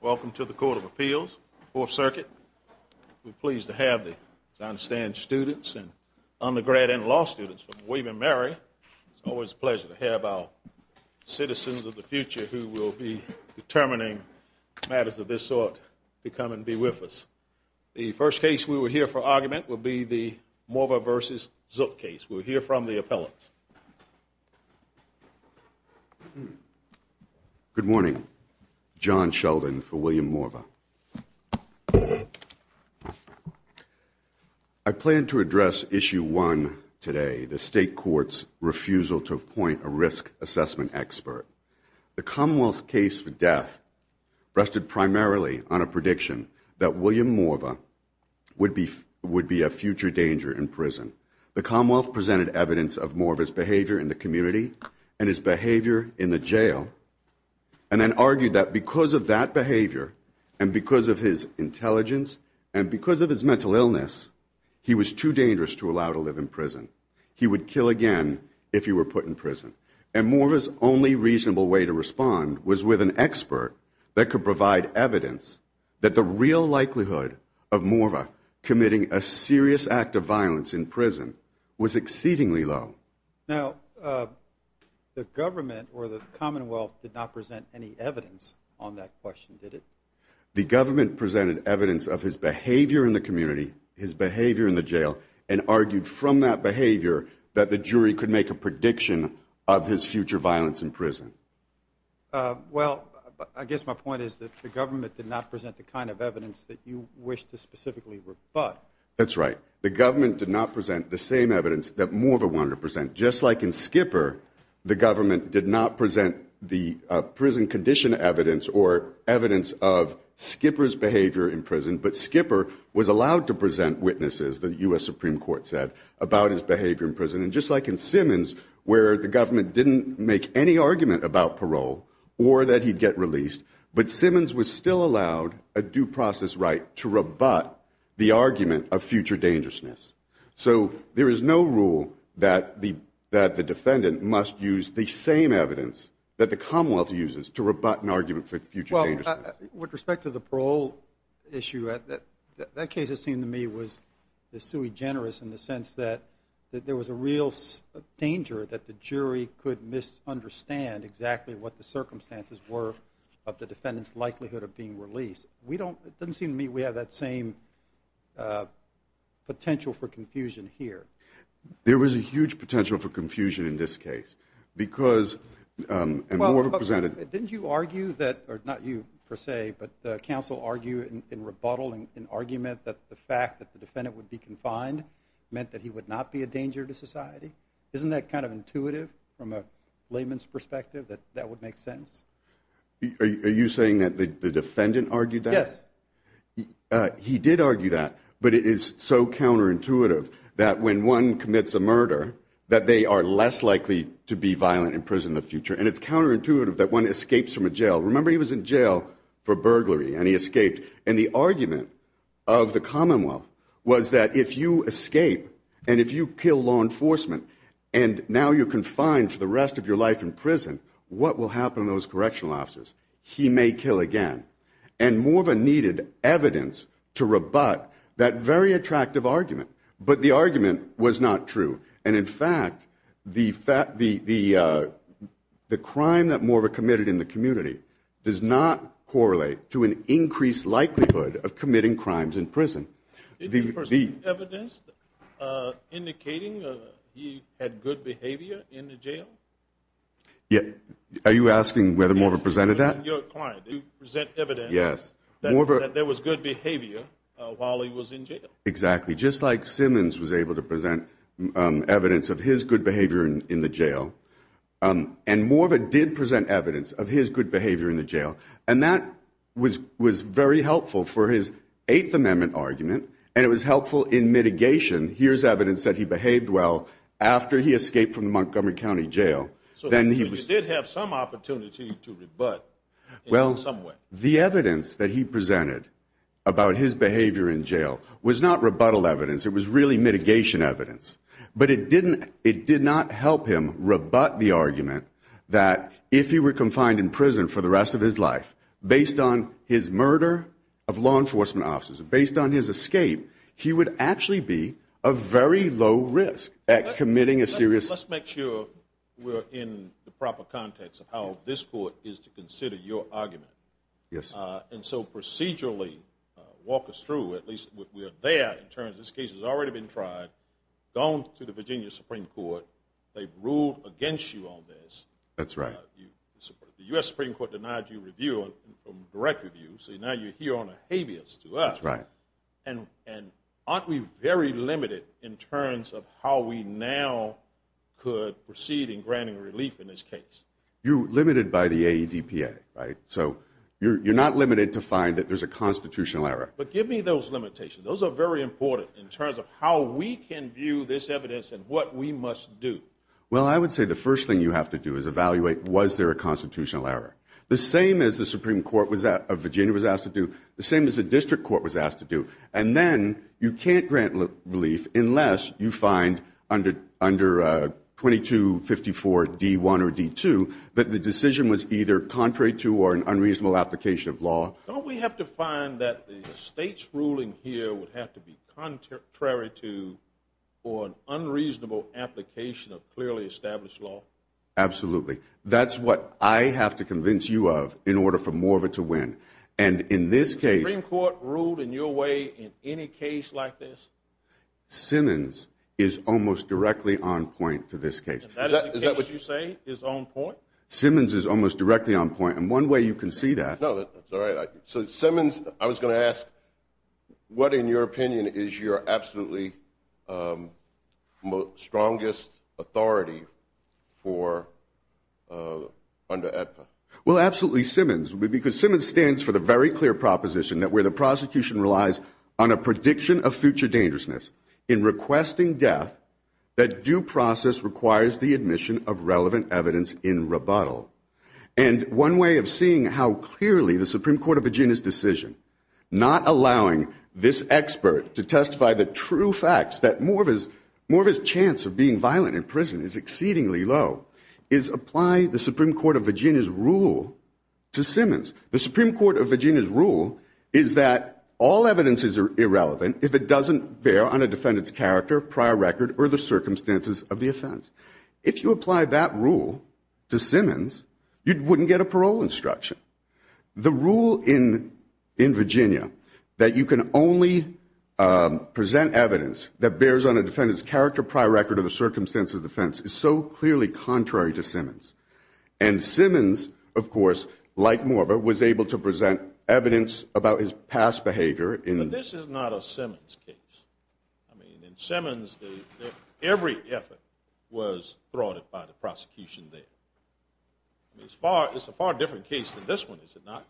Welcome to the Court of Appeals, 4th Circuit. We're pleased to have the Zahnstein students and undergrad and law students from William & Mary. It's always a pleasure to have our citizens of the future who will be determining matters of this sort to come and be with us. The first case we will hear for argument will be the Morva v. Zook case. We'll hear from the appellants. John Sheldon Good morning. John Sheldon for William Morva. I plan to address Issue 1 today, the State Court's refusal to appoint a risk assessment expert. The Commonwealth's case for death rested primarily on a prediction that William Morva would be a future danger in prison. The Commonwealth presented evidence of Morva's behavior in the community and his behavior in the jail, and then argued that because of that behavior and because of his intelligence and because of his mental illness, he was too dangerous to allow to live in prison. He would kill again if he were put in prison. And Morva's only reasonable way to respond was with an expert that could provide evidence that the real likelihood of Morva committing a serious act of violence in prison was exceedingly low. Now, the government or the Commonwealth did not present any evidence on that question, did it? The government presented evidence of his behavior in the community, his behavior in the jail, and argued from that behavior that the jury could make a prediction of his future violence in prison. Well, I guess my point is that the government did not present the kind of evidence that you wish to specifically rebut. That's right. The government did not present the same evidence that Morva wanted to present. Just like in Skipper, the government did not present the prison condition evidence or evidence of Skipper's behavior in prison, but Skipper was allowed to present witnesses, the U.S. Supreme Court said, about his behavior in prison. And just like in Simmons, where the government didn't make any argument about parole or that he'd get released, but Simmons was still allowed a due process right to rebut the argument of future dangerousness. So there is no rule that the defendant must use the same evidence that the Commonwealth uses to rebut an argument for future dangerousness. With respect to the parole issue, that case, it seemed to me, was the sui generis in the sense that there was a real danger that the jury could misunderstand exactly what the circumstances were of the defendant's likelihood of being released. It doesn't seem to me we have that same potential for confusion here. There was a huge potential for confusion in this case. Well, didn't you argue that, or not you per se, but the counsel argued in rebuttal, in argument that the fact that the defendant would be confined meant that he would not be a danger to society? Isn't that kind of intuitive from a layman's perspective, that that would make sense? Are you saying that the defendant argued that? Yes. He did argue that, but it is so counterintuitive that when one commits a murder, that they are less likely to be violent in prison in the future, and it's counterintuitive that one escapes from a jail. Remember, he was in jail for burglary, and he escaped. And the argument of the Commonwealth was that if you escape, and if you kill law enforcement, and now you're confined for the rest of your life in prison, what will happen to those correctional officers? He may kill again. And Morva needed evidence to rebut that very attractive argument. But the argument was not true. And, in fact, the crime that Morva committed in the community does not correlate to an increased likelihood of committing crimes in prison. Did you present evidence indicating he had good behavior in the jail? Are you asking whether Morva presented that? Did you present evidence that there was good behavior while he was in jail? Exactly. Just like Simmons was able to present evidence of his good behavior in the jail, and Morva did present evidence of his good behavior in the jail, and that was very helpful for his Eighth Amendment argument, and it was helpful in mitigation. Here's evidence that he behaved well after he escaped from the Montgomery County Jail. So you did have some opportunity to rebut in some way. Well, the evidence that he presented about his behavior in jail was not rebuttal evidence. It was really mitigation evidence. But it did not help him rebut the argument that if he were confined in prison for the rest of his life, based on his murder of law enforcement officers, based on his escape, he would actually be a very low risk at committing a serious crime. Let's make sure we're in the proper context of how this court is to consider your argument. Yes. And so procedurally walk us through, at least we're there in terms of this case has already been tried, gone to the Virginia Supreme Court, they've ruled against you on this. That's right. The U.S. Supreme Court denied you review, direct review, so now you're here on a habeas to us. That's right. And aren't we very limited in terms of how we now could proceed in granting relief in this case? You're limited by the AEDPA, right? So you're not limited to find that there's a constitutional error. But give me those limitations. Those are very important in terms of how we can view this evidence and what we must do. Well, I would say the first thing you have to do is evaluate was there a constitutional error. The same as the Supreme Court of Virginia was asked to do, the same as the district court was asked to do. And then you can't grant relief unless you find under 2254 D1 or D2 that the decision was either contrary to or an unreasonable application of law. Don't we have to find that the state's ruling here would have to be contrary to or an unreasonable application of clearly established law? Absolutely. That's what I have to convince you of in order for more of it to win. And in this case. The Supreme Court ruled in your way in any case like this? Simmons is almost directly on point to this case. Is that what you say, is on point? Simmons is almost directly on point. And one way you can see that. No, that's all right. So Simmons, I was going to ask, what in your opinion is your absolutely strongest authority for under AEDPA? Well, absolutely. Simmons would be because Simmons stands for the very clear proposition that where the prosecution relies on a prediction of future dangerousness in requesting death, that due process requires the admission of relevant evidence in rebuttal. And one way of seeing how clearly the Supreme Court of Virginia's decision not allowing this expert to testify the true facts that more of his chance of being violent in prison is exceedingly low is apply the Supreme Court of Virginia's rule to Simmons. The Supreme Court of Virginia's rule is that all evidence is irrelevant if it doesn't bear on a defendant's character, prior record, or the circumstances of the offense. If you apply that rule to Simmons, you wouldn't get a parole instruction. The rule in Virginia that you can only present evidence that bears on a defendant's character, prior record, or the circumstances of the offense is so clearly contrary to Simmons. And Simmons, of course, like Morver, was able to present evidence about his past behavior. But this is not a Simmons case. I mean, in Simmons, every effort was thwarted by the prosecution there. It's a far different case than this one, is it not?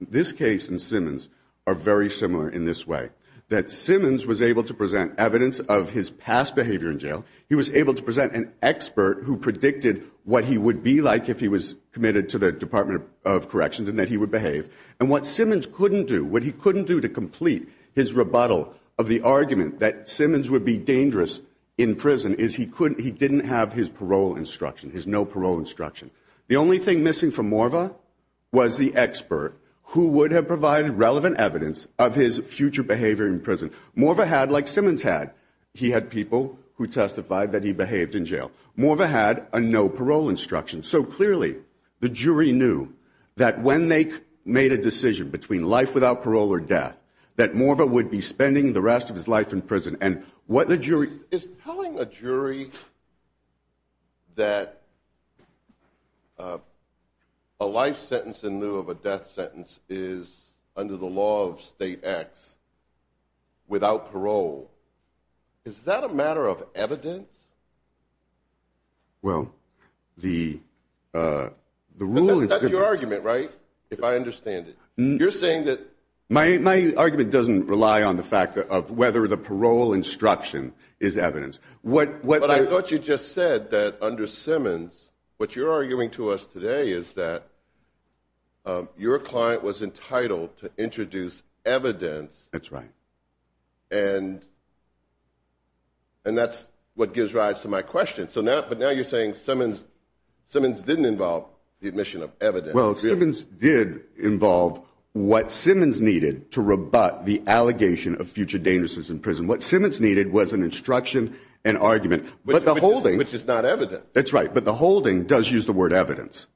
This case and Simmons are very similar in this way, that Simmons was able to present evidence of his past behavior in jail. He was able to present an expert who predicted what he would be like if he was committed to the Department of Corrections and that he would behave. And what Simmons couldn't do, what he couldn't do to complete his rebuttal of the argument that Simmons would be dangerous in prison, is he didn't have his parole instruction, his no parole instruction. The only thing missing from Morver was the expert who would have provided relevant evidence of his future behavior in prison. Morver had, like Simmons had, he had people who testified that he behaved in jail. Morver had a no parole instruction. So clearly, the jury knew that when they made a decision between life without parole or death, that Morver would be spending the rest of his life in prison. Is telling a jury that a life sentence in lieu of a death sentence is, under the law of state acts, without parole, is that a matter of evidence? Well, the rule in Simmons... That's your argument, right? If I understand it. You're saying that... My argument doesn't rely on the fact of whether the parole instruction is evidence. But I thought you just said that under Simmons, what you're arguing to us today is that your client was entitled to introduce evidence. That's right. And that's what gives rise to my question. But now you're saying Simmons didn't involve the admission of evidence. Well, Simmons did involve what Simmons needed to rebut the allegation of future dangerousness in prison. What Simmons needed was an instruction, an argument. But the holding... Which is not evidence. That's right. But the holding does use the word evidence.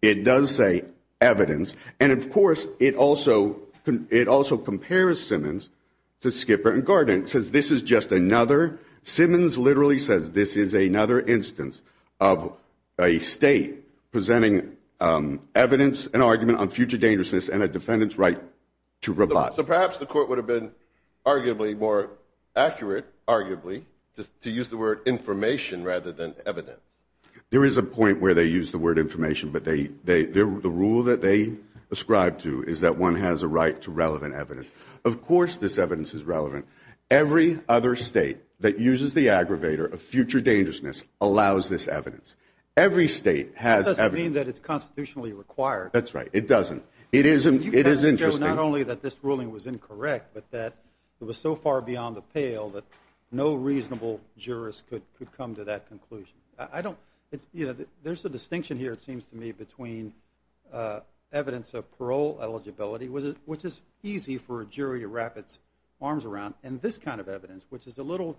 It does say evidence. And, of course, it also compares Simmons to Skipper and Gardner. Simmons literally says this is another instance of a state presenting evidence, an argument on future dangerousness, and a defendant's right to rebut. So perhaps the court would have been arguably more accurate, arguably, to use the word information rather than evidence. There is a point where they use the word information, but the rule that they ascribe to is that one has a right to relevant evidence. Of course this evidence is relevant. Every other state that uses the aggravator of future dangerousness allows this evidence. Every state has evidence. That doesn't mean that it's constitutionally required. That's right. It doesn't. It is interesting. You can't show not only that this ruling was incorrect, but that it was so far beyond the pale that no reasonable jurist could come to that conclusion. There's a distinction here, it seems to me, between evidence of parole eligibility, which is easy for a jury to wrap its arms around, and this kind of evidence, which is a little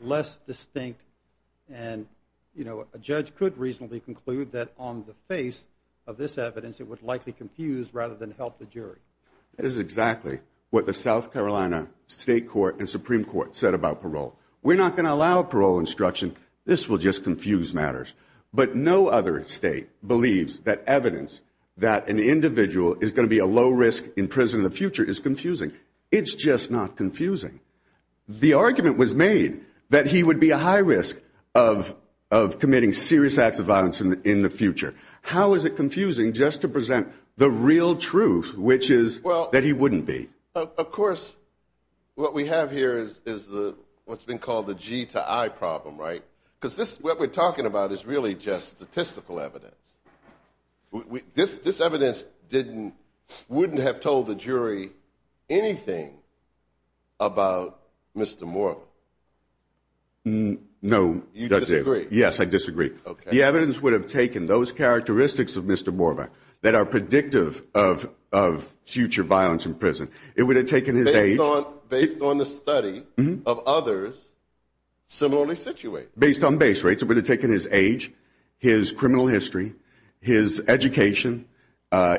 less distinct. And a judge could reasonably conclude that on the face of this evidence it would likely confuse rather than help the jury. That is exactly what the South Carolina State Court and Supreme Court said about parole. We're not going to allow parole instruction. This will just confuse matters. But no other state believes that evidence that an individual is going to be a low risk in prison in the future is confusing. It's just not confusing. The argument was made that he would be a high risk of committing serious acts of violence in the future. How is it confusing just to present the real truth, which is that he wouldn't be? Of course, what we have here is what's been called the G to I problem, right? Because what we're talking about is really just statistical evidence. This evidence wouldn't have told the jury anything about Mr. Morva. No. You disagree? Yes, I disagree. The evidence would have taken those characteristics of Mr. Morva that are predictive of future violence in prison. It would have taken his age. Based on the study of others similarly situated. Based on base rates. It would have taken his age, his criminal history, his education,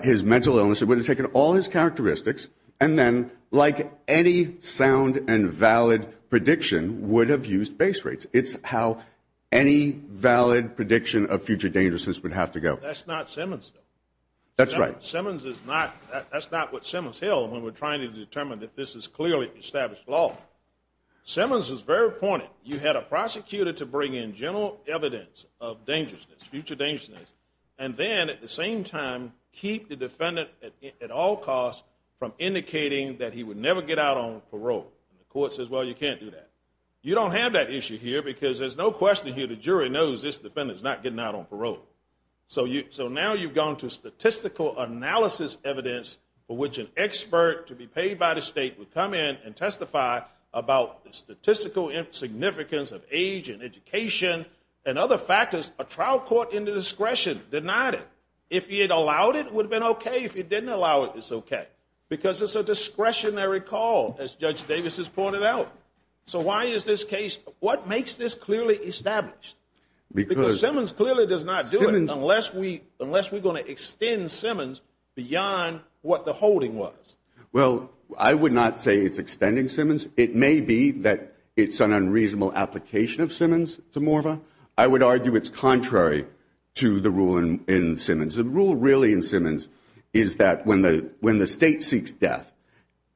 his mental illness. It would have taken all his characteristics. And then, like any sound and valid prediction, would have used base rates. It's how any valid prediction of future dangerousness would have to go. That's not Simmons, though. That's right. Simmons is not. That's not what Simmons held when we're trying to determine that this is clearly established law. Simmons was very pointed. You had a prosecutor to bring in general evidence of dangerousness, future dangerousness, and then at the same time, keep the defendant at all costs from indicating that he would never get out on parole. The court says, well, you can't do that. You don't have that issue here because there's no question here the jury knows this defendant is not getting out on parole. So now you've gone to statistical analysis evidence for which an expert to be paid by the state would come in and testify about the statistical significance of age and education and other factors. A trial court in the discretion denied it. If he had allowed it, it would have been okay. If he didn't allow it, it's okay. Because it's a discretionary call, as Judge Davis has pointed out. So why is this case, what makes this clearly established? Because Simmons clearly does not do it unless we're going to extend Simmons beyond what the holding was. Well, I would not say it's extending Simmons. It may be that it's an unreasonable application of Simmons to Morva. I would argue it's contrary to the rule in Simmons. The rule really in Simmons is that when the state seeks death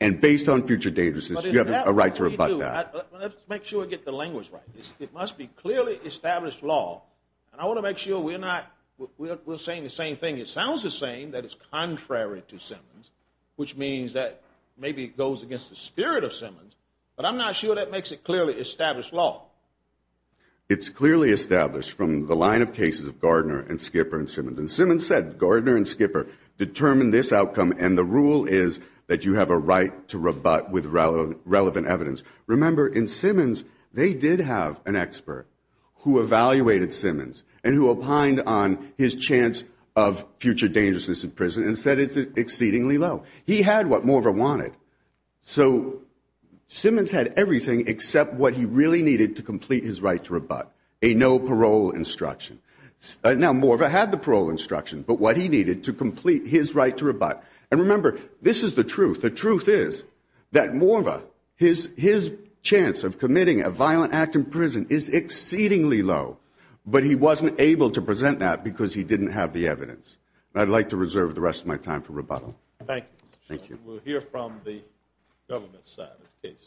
and based on future dangerousness, you have a right to rebut that. Let's make sure we get the language right. It must be clearly established law. And I want to make sure we're not saying the same thing. It sounds the same, that it's contrary to Simmons, which means that maybe it goes against the spirit of Simmons. But I'm not sure that makes it clearly established law. It's clearly established from the line of cases of Gardner and Skipper and Simmons. And Simmons said Gardner and Skipper determined this outcome, and the rule is that you have a right to rebut with relevant evidence. Remember, in Simmons, they did have an expert who evaluated Simmons and who opined on his chance of future dangerousness in prison and said it's exceedingly low. He had what Morva wanted. So Simmons had everything except what he really needed to complete his right to rebut, a no-parole instruction. Now, Morva had the parole instruction, but what he needed to complete his right to rebut. And remember, this is the truth. The truth is that Morva, his chance of committing a violent act in prison is exceedingly low, but he wasn't able to present that because he didn't have the evidence. I'd like to reserve the rest of my time for rebuttal. Thank you. Thank you. We'll hear from the government side of the case.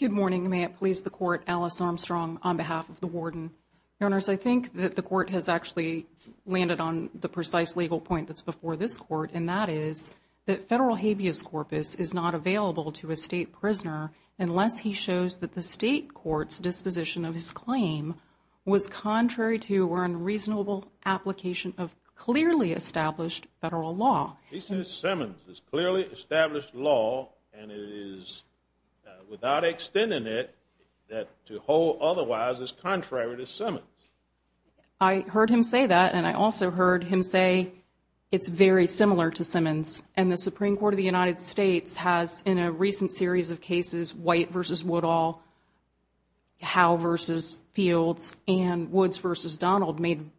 Good morning. May it please the Court, Alice Armstrong on behalf of the warden. Your Honors, I think that the Court has actually landed on the precise legal point that's before this Court, and that is that federal habeas corpus is not available to a state prisoner unless he shows that the state court's disposition of his claim was contrary to or unreasonable application of clearly established federal law. He says Simmons is clearly established law, and it is, without extending it, that to hold otherwise is contrary to Simmons. I heard him say that, and I also heard him say it's very similar to Simmons. And the Supreme Court of the United States has, in a recent series of cases, White v. Woodall, Howe v. Fields, and Woods v. Donald, made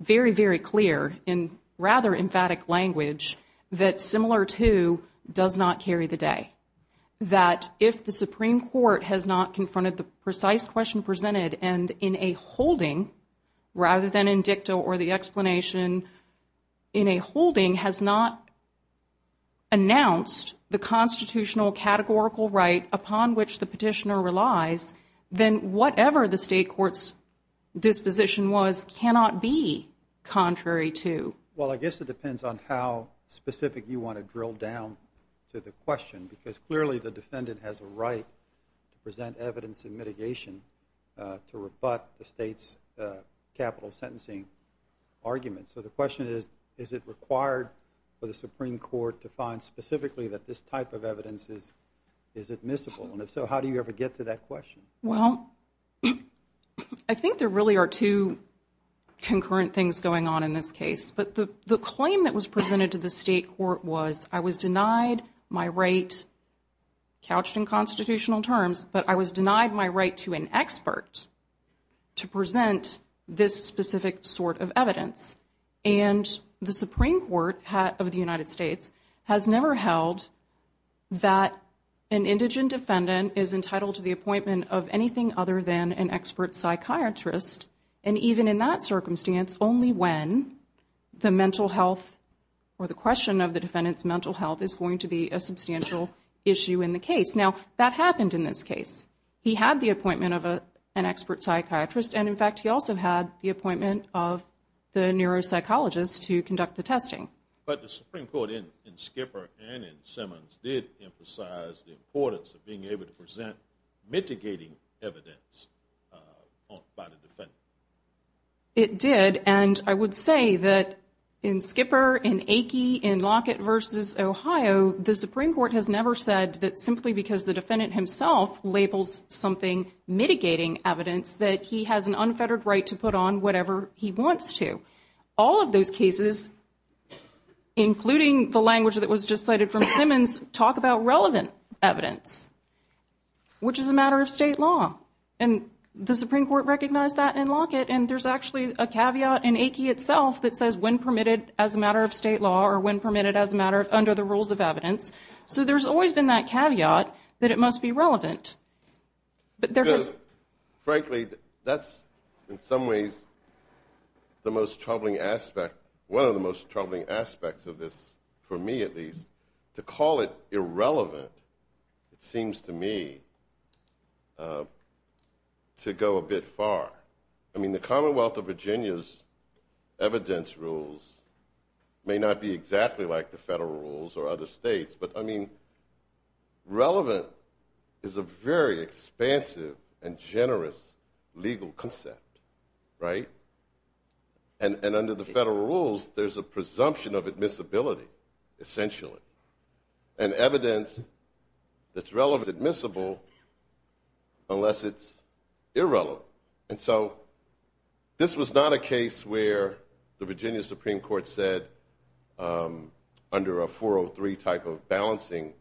very, very clear in rather emphatic language that similar to does not carry the day. That if the Supreme Court has not confronted the precise question presented, and in a holding, rather than in dicta or the explanation, in a holding has not announced the constitutional categorical right upon which the petitioner relies, then whatever the state court's disposition was cannot be contrary to. Well, I guess it depends on how specific you want to drill down to the question because clearly the defendant has a right to present evidence in mitigation to rebut the state's capital sentencing argument. So the question is, is it required for the Supreme Court to find specifically that this type of evidence is admissible? And if so, how do you ever get to that question? Well, I think there really are two concurrent things going on in this case. But the claim that was presented to the state court was, I was denied my right, couched in constitutional terms, but I was denied my right to an expert to present this specific sort of evidence. And the Supreme Court of the United States has never held that an indigent defendant is entitled to the appointment of anything other than an expert psychiatrist. And even in that circumstance, only when the mental health or the question of the defendant's mental health is going to be a substantial issue in the case. Now, that happened in this case. He had the appointment of an expert psychiatrist, and in fact he also had the appointment of the neuropsychologist to conduct the testing. But the Supreme Court in Skipper and in Simmons did emphasize the importance of being able to present mitigating evidence by the defendant. It did, and I would say that in Skipper, in Aki, in Lockett v. Ohio, the Supreme Court has never said that simply because the defendant himself labels something mitigating evidence that he has an unfettered right to put on whatever he wants to. All of those cases, including the language that was just cited from Simmons, talk about relevant evidence, which is a matter of state law. And the Supreme Court recognized that in Lockett, and there's actually a caveat in Aki itself that says when permitted as a matter of state law or when permitted as a matter under the rules of evidence. So there's always been that caveat that it must be relevant. Frankly, that's in some ways the most troubling aspect, one of the most troubling aspects of this, for me at least, to call it irrelevant seems to me to go a bit far. I mean, the Commonwealth of Virginia's evidence rules may not be exactly like the federal rules or other states, but, I mean, relevant is a very expansive and generous legal concept, right? And under the federal rules, there's a presumption of admissibility, essentially, and evidence that's relevant is admissible unless it's irrelevant. And so this was not a case where the Virginia Supreme Court said under a 403 type of balancing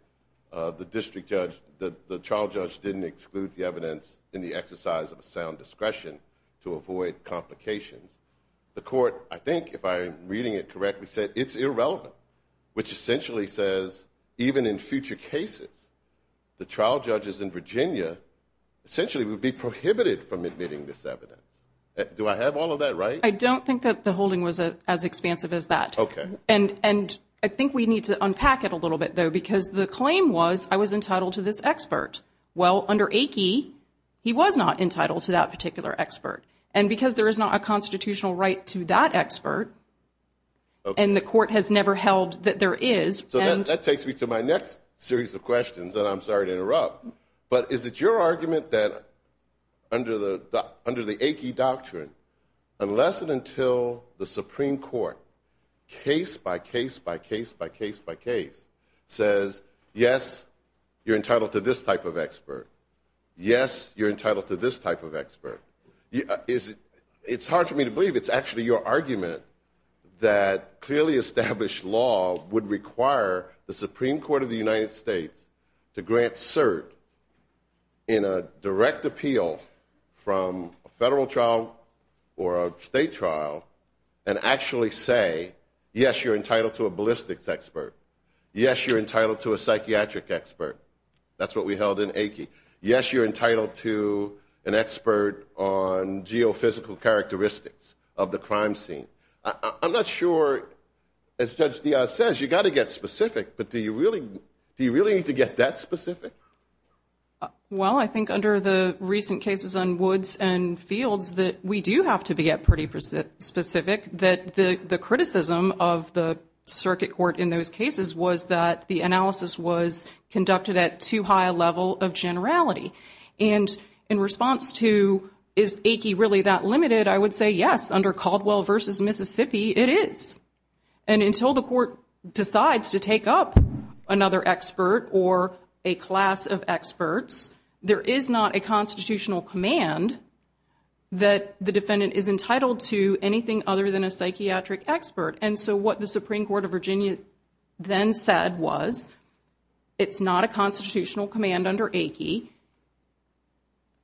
the district judge, the trial judge didn't exclude the evidence in the exercise of a sound discretion to avoid complications. The court, I think, if I'm reading it correctly, said it's irrelevant, which essentially says even in future cases, the trial judges in Virginia essentially would be prohibited from admitting this evidence. Do I have all of that right? I don't think that the holding was as expansive as that. Okay. And I think we need to unpack it a little bit, though, because the claim was I was entitled to this expert. Well, under AICI, he was not entitled to that particular expert. And because there is not a constitutional right to that expert, and the court has never held that there is. So that takes me to my next series of questions, and I'm sorry to interrupt. But is it your argument that under the AICI doctrine, unless and until the Supreme Court, case by case by case by case by case says, yes, you're entitled to this type of expert, yes, you're entitled to this type of expert, it's hard for me to believe it's actually your argument that clearly established law would require the Supreme Court of the United States to grant cert in a direct appeal from a federal trial or a state trial and actually say, yes, you're entitled to a ballistics expert. Yes, you're entitled to a psychiatric expert. That's what we held in AICI. Yes, you're entitled to an expert on geophysical characteristics of the crime scene. I'm not sure, as Judge Diaz says, you've got to get specific, but do you really need to get that specific? Well, I think under the recent cases on Woods and Fields that we do have to be pretty specific, that the criticism of the circuit court in those cases was that the analysis was conducted at too high a level of generality. And in response to, is AICI really that limited, I would say, yes, under Caldwell v. Mississippi, it is. And until the court decides to take up another expert or a class of experts, there is not a constitutional command that the defendant is entitled to anything other than a psychiatric expert. And so what the Supreme Court of Virginia then said was it's not a constitutional command under AICI.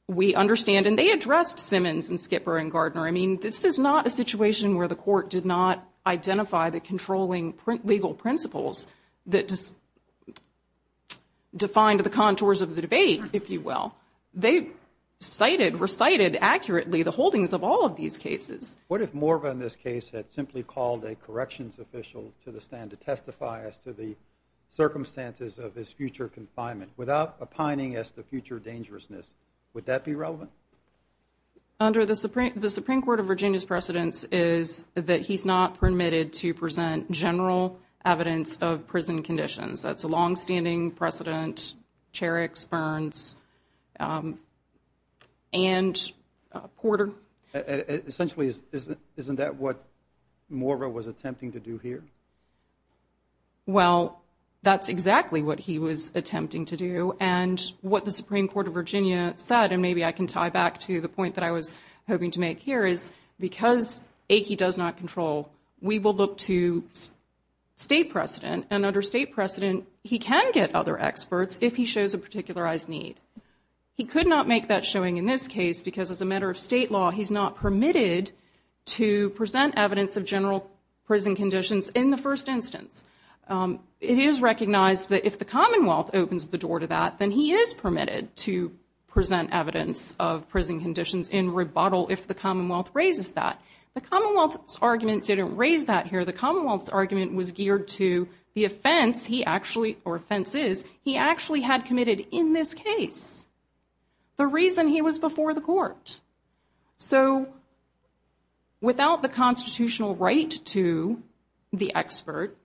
We understand, and they addressed Simmons and Skipper and Gardner. I mean, this is not a situation where the court did not identify the controlling legal principles that defined the contours of the debate, if you will. They cited, recited accurately the holdings of all of these cases. What if Morva in this case had simply called a corrections official to the stand to testify as to the circumstances of his future confinement without opining as to future dangerousness? Would that be relevant? Under the Supreme Court of Virginia's precedence is that he's not permitted to present general evidence of prison conditions. That's a longstanding precedent, Cherricks, Burns, and Porter. Essentially, isn't that what Morva was attempting to do here? Well, that's exactly what he was attempting to do. And what the Supreme Court of Virginia said, and maybe I can tie back to the point that I was hoping to make here, is because AICI does not control, we will look to state precedent. And under state precedent, he can get other experts if he shows a particularized need. He could not make that showing in this case because as a matter of state law, he's not permitted to present evidence of general prison conditions in the first instance. It is recognized that if the Commonwealth opens the door to that, then he is permitted to present evidence of prison conditions in rebuttal if the Commonwealth raises that. The Commonwealth's argument didn't raise that here. The Commonwealth's argument was geared to the offense he actually or offenses he actually had committed in this case, the reason he was before the court. So without the constitutional right to the expert,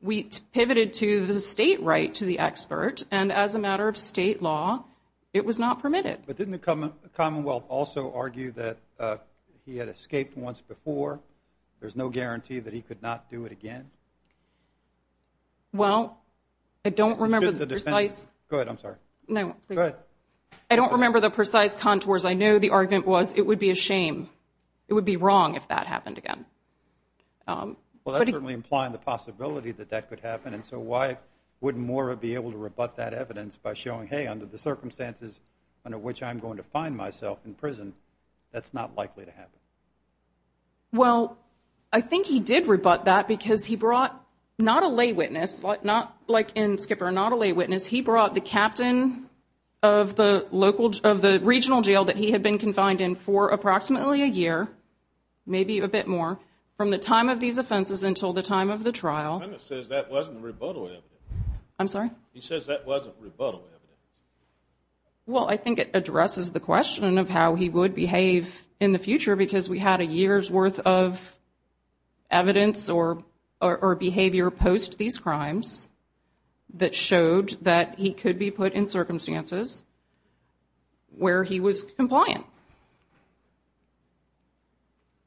we pivoted to the state right to the expert, and as a matter of state law, it was not permitted. But didn't the Commonwealth also argue that he had escaped once before? There's no guarantee that he could not do it again? Well, I don't remember the precise. Go ahead, I'm sorry. No. Go ahead. I don't remember the precise contours. I know the argument was it would be a shame. It would be wrong if that happened again. Well, that's certainly implying the possibility that that could happen, and so why wouldn't Mora be able to rebut that evidence by showing, hey, under the circumstances under which I'm going to find myself in prison, that's not likely to happen? Well, I think he did rebut that because he brought not a lay witness, not like in Skipper, not a lay witness. He brought the captain of the regional jail that he had been confined in for approximately a year, maybe a bit more, from the time of these offenses until the time of the trial. He says that wasn't rebuttal evidence. I'm sorry? He says that wasn't rebuttal evidence. Well, I think it addresses the question of how he would behave in the future because we had a year's worth of evidence or behavior post these crimes that showed that he could be put in circumstances where he was compliant.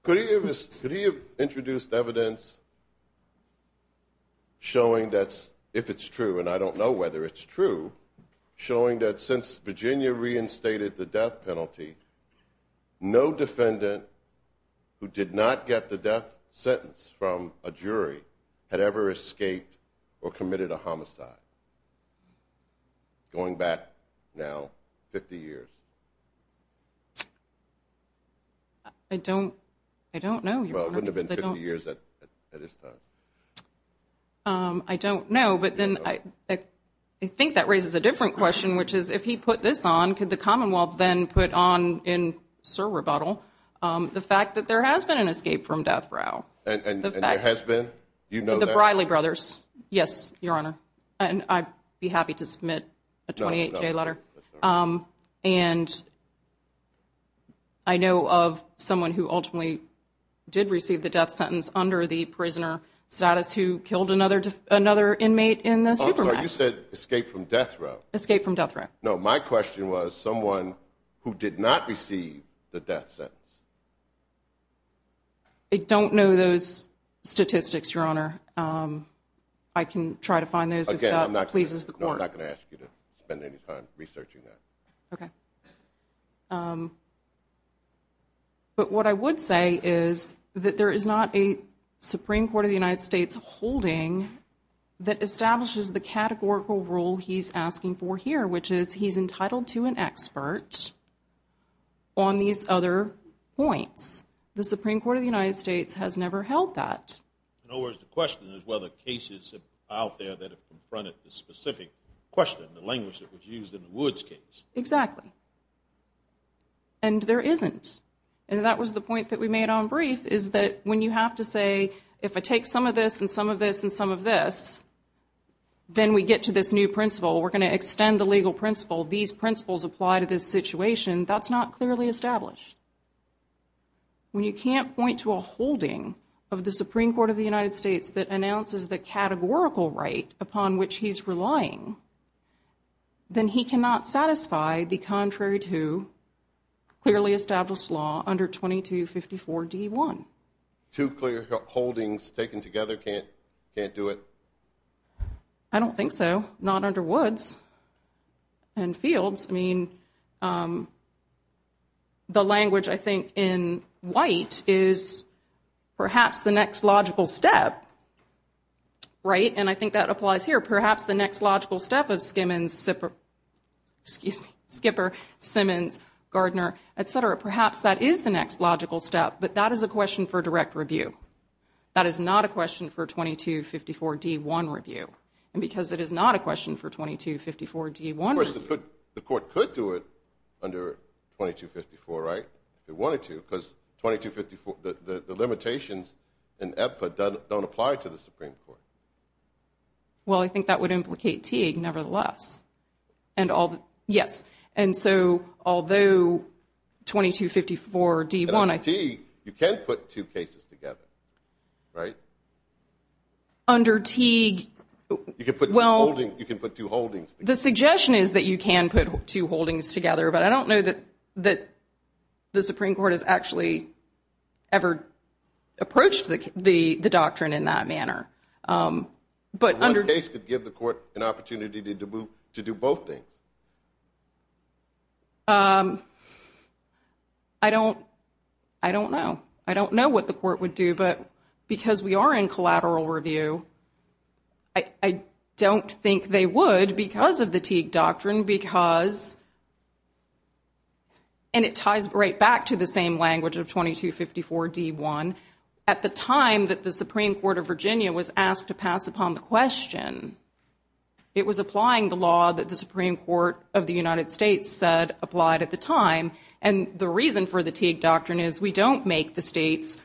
Could he have introduced evidence showing that if it's true, and I don't know whether it's true, showing that since Virginia reinstated the death penalty, no defendant who did not get the death sentence from a jury had ever escaped or committed a homicide, going back now 50 years? I don't know, Your Honor. Well, it wouldn't have been 50 years at this time. I don't know. But then I think that raises a different question, which is if he put this on, could the Commonwealth then put on in sur rebuttal the fact that there has been an escape from death row? And there has been? The Briley brothers, yes, Your Honor. And I'd be happy to submit a 28-day letter. And I know of someone who ultimately did receive the death sentence under the prisoner status who killed another inmate in the Supermax. You said escape from death row. Escape from death row. No, my question was someone who did not receive the death sentence. I don't know those statistics, Your Honor. I can try to find those if that pleases the Court. No, I'm not going to ask you to spend any time researching that. Okay. But what I would say is that there is not a Supreme Court of the United States holding that establishes the categorical rule he's asking for here, which is he's entitled to an expert on these other points. The Supreme Court of the United States has never held that. In other words, the question is whether cases out there that have confronted the specific question, the language that was used in the Woods case. Exactly. And there isn't. And that was the point that we made on brief is that when you have to say, if I take some of this and some of this and some of this, then we get to this new principle. We're going to extend the legal principle. These principles apply to this situation. That's not clearly established. When you can't point to a holding of the Supreme Court of the United States that announces the categorical right upon which he's relying, then he cannot satisfy the contrary to clearly established law under 2254 D1. Two clear holdings taken together can't do it? I don't think so. Not under Woods and Fields. I mean, the language, I think, in White is perhaps the next logical step, right? And I think that applies here. Perhaps the next logical step of Skipper, Simmons, Gardner, et cetera, perhaps that is the next logical step, but that is a question for direct review. That is not a question for 2254 D1 review. And because it is not a question for 2254 D1 review. Of course, the court could do it under 2254, right, if it wanted to, because the limitations in EBPA don't apply to the Supreme Court. Well, I think that would implicate Teague nevertheless. Yes, and so although 2254 D1 – Under Teague, you can put two cases together, right? Under Teague – You can put two holdings together. The suggestion is that you can put two holdings together, but I don't know that the Supreme Court has actually ever approached the doctrine in that manner. But under – The case could give the court an opportunity to do both things. I don't know. I don't know what the court would do, but because we are in collateral review, I don't think they would because of the Teague doctrine because – and it ties right back to the same language of 2254 D1. At the time that the Supreme Court of Virginia was asked to pass upon the question, it was applying the law that the Supreme Court of the United States said applied at the time. And the reason for the Teague doctrine is we don't make the states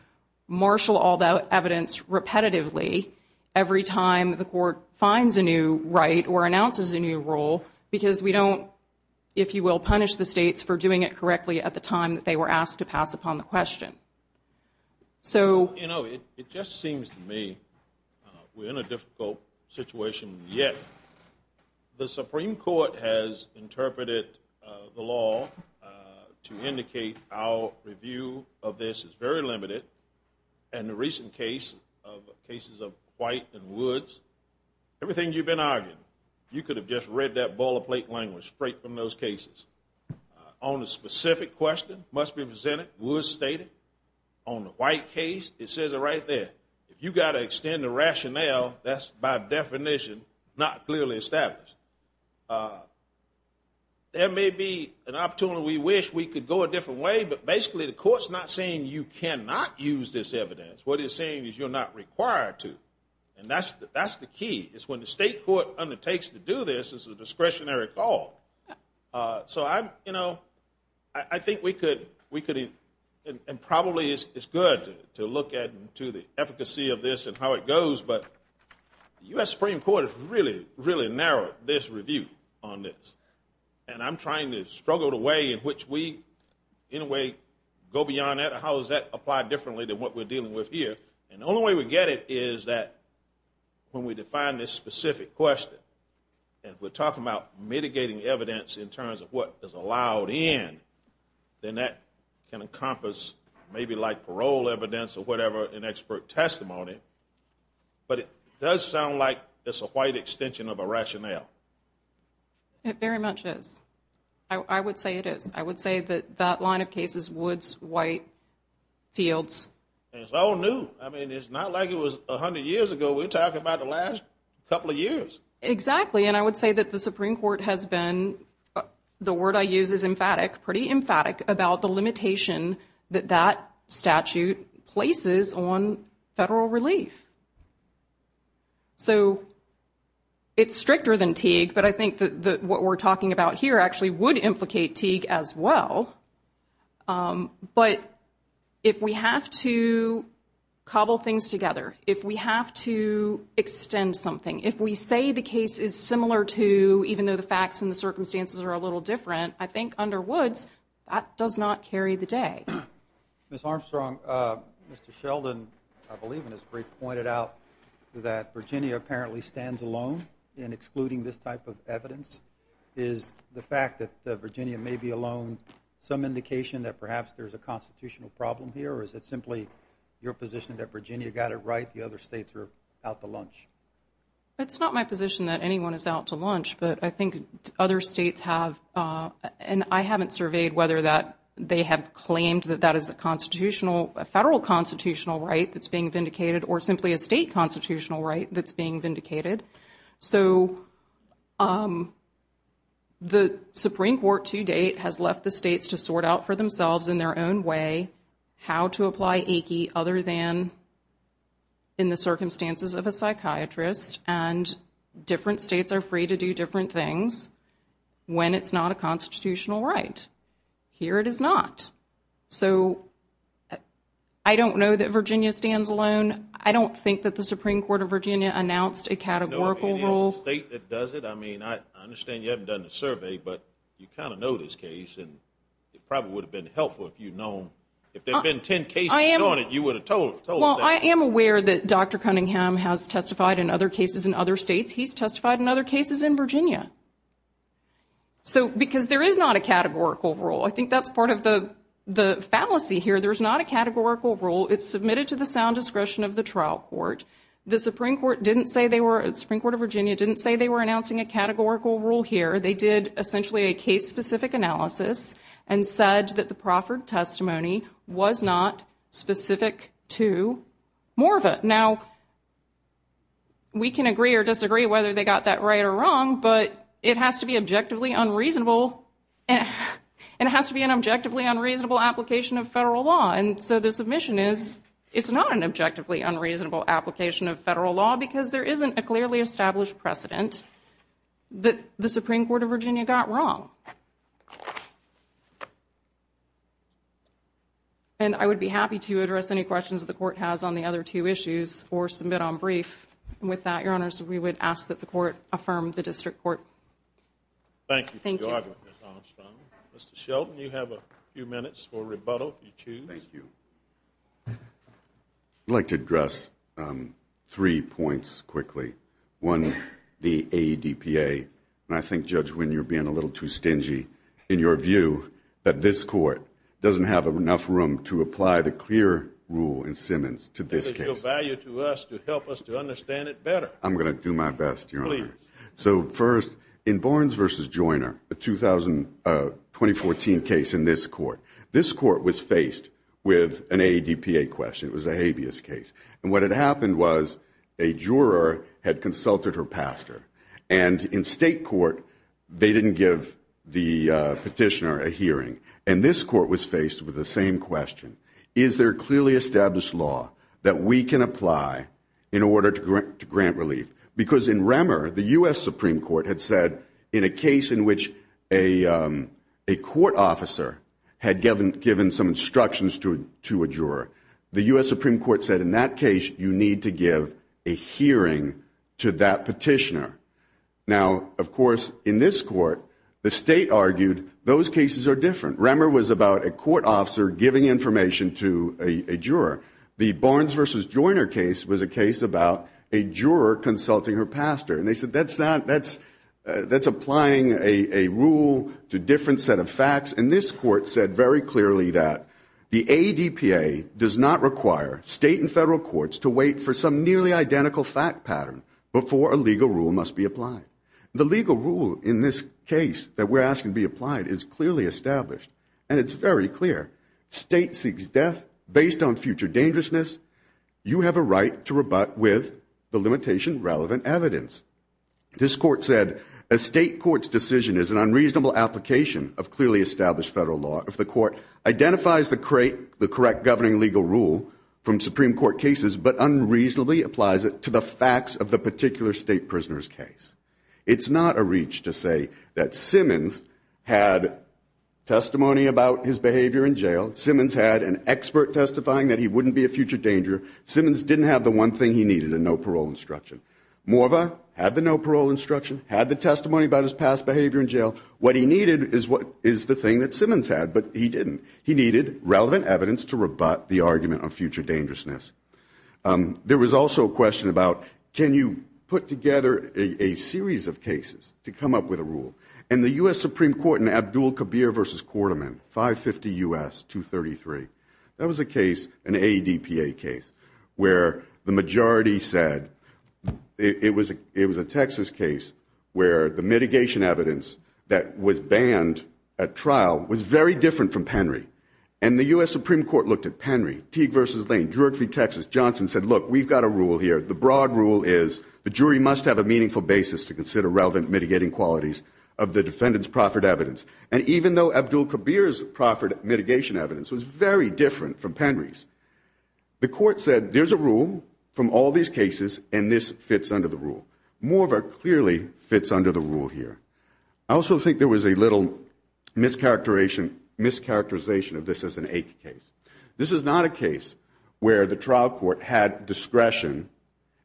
marshal all the evidence repetitively every time the court finds a new right or announces a new rule because we don't, if you will, punish the states for doing it correctly at the time that they were asked to pass upon the question. You know, it just seems to me we're in a difficult situation yet. The Supreme Court has interpreted the law to indicate our review of this is very limited. And the recent cases of White and Woods, everything you've been arguing, you could have just read that boilerplate language straight from those cases. On the specific question must be presented, Woods stated. On the White case, it says it right there. If you've got to extend the rationale, that's by definition not clearly established. There may be an opportunity we wish we could go a different way, but basically the court's not saying you cannot use this evidence. What it's saying is you're not required to. And that's the key, is when the state court undertakes to do this, it's a discretionary call. So I'm, you know, I think we could, and probably it's good to look at to the efficacy of this and how it goes, but the U.S. Supreme Court has really, really narrowed this review on this. And I'm trying to struggle the way in which we in a way go beyond that and how does that apply differently than what we're dealing with here. And the only way we get it is that when we define this specific question and we're talking about mitigating evidence in terms of what is allowed in, then that can encompass maybe like parole evidence or whatever and expert testimony. But it does sound like it's a White extension of a rationale. It very much is. I would say it is. I would say that that line of cases, Woods, White, Fields. It's all new. I mean, it's not like it was 100 years ago. We're talking about the last couple of years. Exactly. And I would say that the Supreme Court has been, the word I use is emphatic, pretty emphatic about the limitation that that statute places on federal relief. So it's stricter than Teague, but I think that what we're talking about here actually would implicate Teague as well. But if we have to cobble things together, if we have to extend something, if we say the case is similar to even though the facts and the circumstances are a little different, I think under Woods that does not carry the day. Ms. Armstrong, Mr. Sheldon, I believe in his brief, pointed out that Virginia apparently stands alone in excluding this type of evidence. Is the fact that Virginia may be alone some indication that perhaps there's a constitutional problem here, or is it simply your position that Virginia got it right, the other states are out to lunch? It's not my position that anyone is out to lunch, but I think other states have, and I haven't surveyed whether they have claimed that that is a federal constitutional right that's being vindicated or simply a state constitutional right that's being vindicated. So the Supreme Court to date has left the states to sort out for themselves in their own way how to apply AICI other than in the circumstances of a psychiatrist, and different states are free to do different things when it's not a constitutional right. Here it is not. So I don't know that Virginia stands alone. I don't think that the Supreme Court of Virginia announced a categorical rule. In a state that does it, I mean, I understand you haven't done the survey, but you kind of know this case, and it probably would have been helpful if you'd known. If there had been 10 cases, you would have told us. Well, I am aware that Dr. Cunningham has testified in other cases in other states. He's testified in other cases in Virginia. So because there is not a categorical rule, I think that's part of the fallacy here. There's not a categorical rule. It's submitted to the sound discretion of the trial court. The Supreme Court of Virginia didn't say they were announcing a categorical rule here. They did essentially a case-specific analysis and said that the Crawford testimony was not specific to Morva. Now, we can agree or disagree whether they got that right or wrong, but it has to be an objectively unreasonable application of federal law. And so the submission is it's not an objectively unreasonable application of federal law because there isn't a clearly established precedent that the Supreme Court of Virginia got wrong. And I would be happy to address any questions the court has on the other two issues or submit on brief. And with that, Your Honors, we would ask that the court affirm the district court. Thank you for your argument, Ms. Armstrong. Mr. Shelton, you have a few minutes for rebuttal if you choose. Thank you. I'd like to address three points quickly. One, the ADPA. And I think, Judge Wynne, you're being a little too stingy in your view that this court doesn't have enough room to apply the clear rule in Simmons to this case. Because it's of value to us to help us to understand it better. I'm going to do my best, Your Honor. Please. So first, in Barnes v. Joyner, a 2014 case in this court, this court was faced with an ADPA question. It was a habeas case. And what had happened was a juror had consulted her pastor. And in state court, they didn't give the petitioner a hearing. And this court was faced with the same question. Is there clearly established law that we can apply in order to grant relief? Because in Remmer, the U.S. Supreme Court had said in a case in which a court officer had given some instructions to a juror, the U.S. Supreme Court said in that case, you need to give a hearing to that petitioner. Now, of course, in this court, the state argued those cases are different. Remmer was about a court officer giving information to a juror. The Barnes v. Joyner case was a case about a juror consulting her pastor. And they said that's applying a rule to a different set of facts. And this court said very clearly that the ADPA does not require state and federal courts to wait for some nearly identical fact pattern before a legal rule must be applied. The legal rule in this case that we're asking to be applied is clearly established, and it's very clear. State seeks death based on future dangerousness. You have a right to rebut with the limitation relevant evidence. This court said a state court's decision is an unreasonable application of clearly established federal law if the court identifies the correct governing legal rule from Supreme Court cases but unreasonably applies it to the facts of the particular state prisoner's case. It's not a reach to say that Simmons had testimony about his behavior in jail. Simmons had an expert testifying that he wouldn't be a future danger. Simmons didn't have the one thing he needed, a no parole instruction. Morva had the no parole instruction, had the testimony about his past behavior in jail. What he needed is the thing that Simmons had, but he didn't. He needed relevant evidence to rebut the argument of future dangerousness. There was also a question about can you put together a series of cases to come up with a rule, and the U.S. Supreme Court in Abdul Kabir v. Quarterman, 550 U.S., 233, that was a case, an ADPA case, where the majority said it was a Texas case where the mitigation evidence that was banned at trial was very different from Penry, and the U.S. Supreme Court looked at Penry, Teague v. Lane, Druid v. Texas. Johnson said, look, we've got a rule here. The broad rule is the jury must have a meaningful basis to consider relevant mitigating qualities of the defendant's proffered evidence, and even though Abdul Kabir's proffered mitigation evidence was very different from Penry's, the court said there's a rule from all these cases, and this fits under the rule. Morva clearly fits under the rule here. I also think there was a little mischaracterization of this as an ache case. This is not a case where the trial court had discretion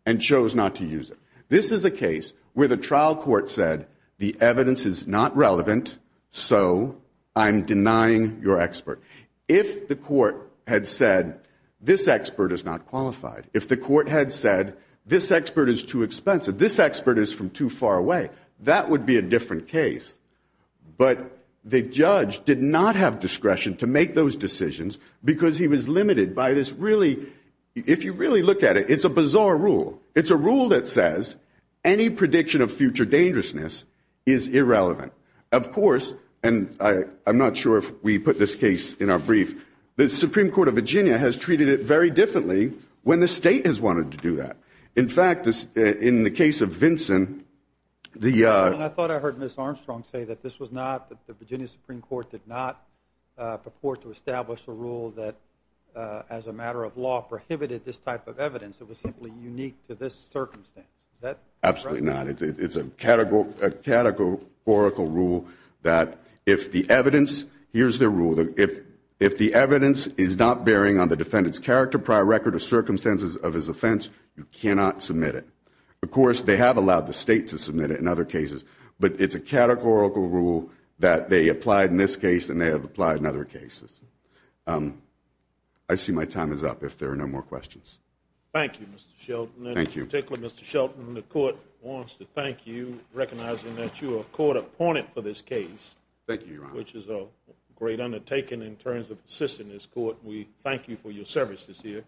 and chose not to use it. This is a case where the trial court said the evidence is not relevant, so I'm denying your expert. If the court had said this expert is not qualified, if the court had said this expert is too expensive, this expert is from too far away, that would be a different case. But the judge did not have discretion to make those decisions because he was limited by this really, if you really look at it, it's a bizarre rule. It's a rule that says any prediction of future dangerousness is irrelevant. Of course, and I'm not sure if we put this case in our brief, the Supreme Court of Virginia has treated it very differently when the state has wanted to do that. In fact, in the case of Vinson, the- I thought I heard Ms. Armstrong say that this was not, that the Virginia Supreme Court did not purport to establish a rule that, as a matter of law, prohibited this type of evidence. It was simply unique to this circumstance. Is that correct? Absolutely not. It's a categorical rule that if the evidence, here's the rule, if the evidence is not bearing on the defendant's character, prior record, or circumstances of his offense, you cannot submit it. Of course, they have allowed the state to submit it in other cases, but it's a categorical rule that they applied in this case and they have applied in other cases. I see my time is up, if there are no more questions. Thank you, Mr. Shelton. Thank you. Mr. Shelton, the court wants to thank you, recognizing that you are a court opponent for this case. Thank you, Your Honor. Which is a great undertaking in terms of assisting this court. We thank you for your service this year.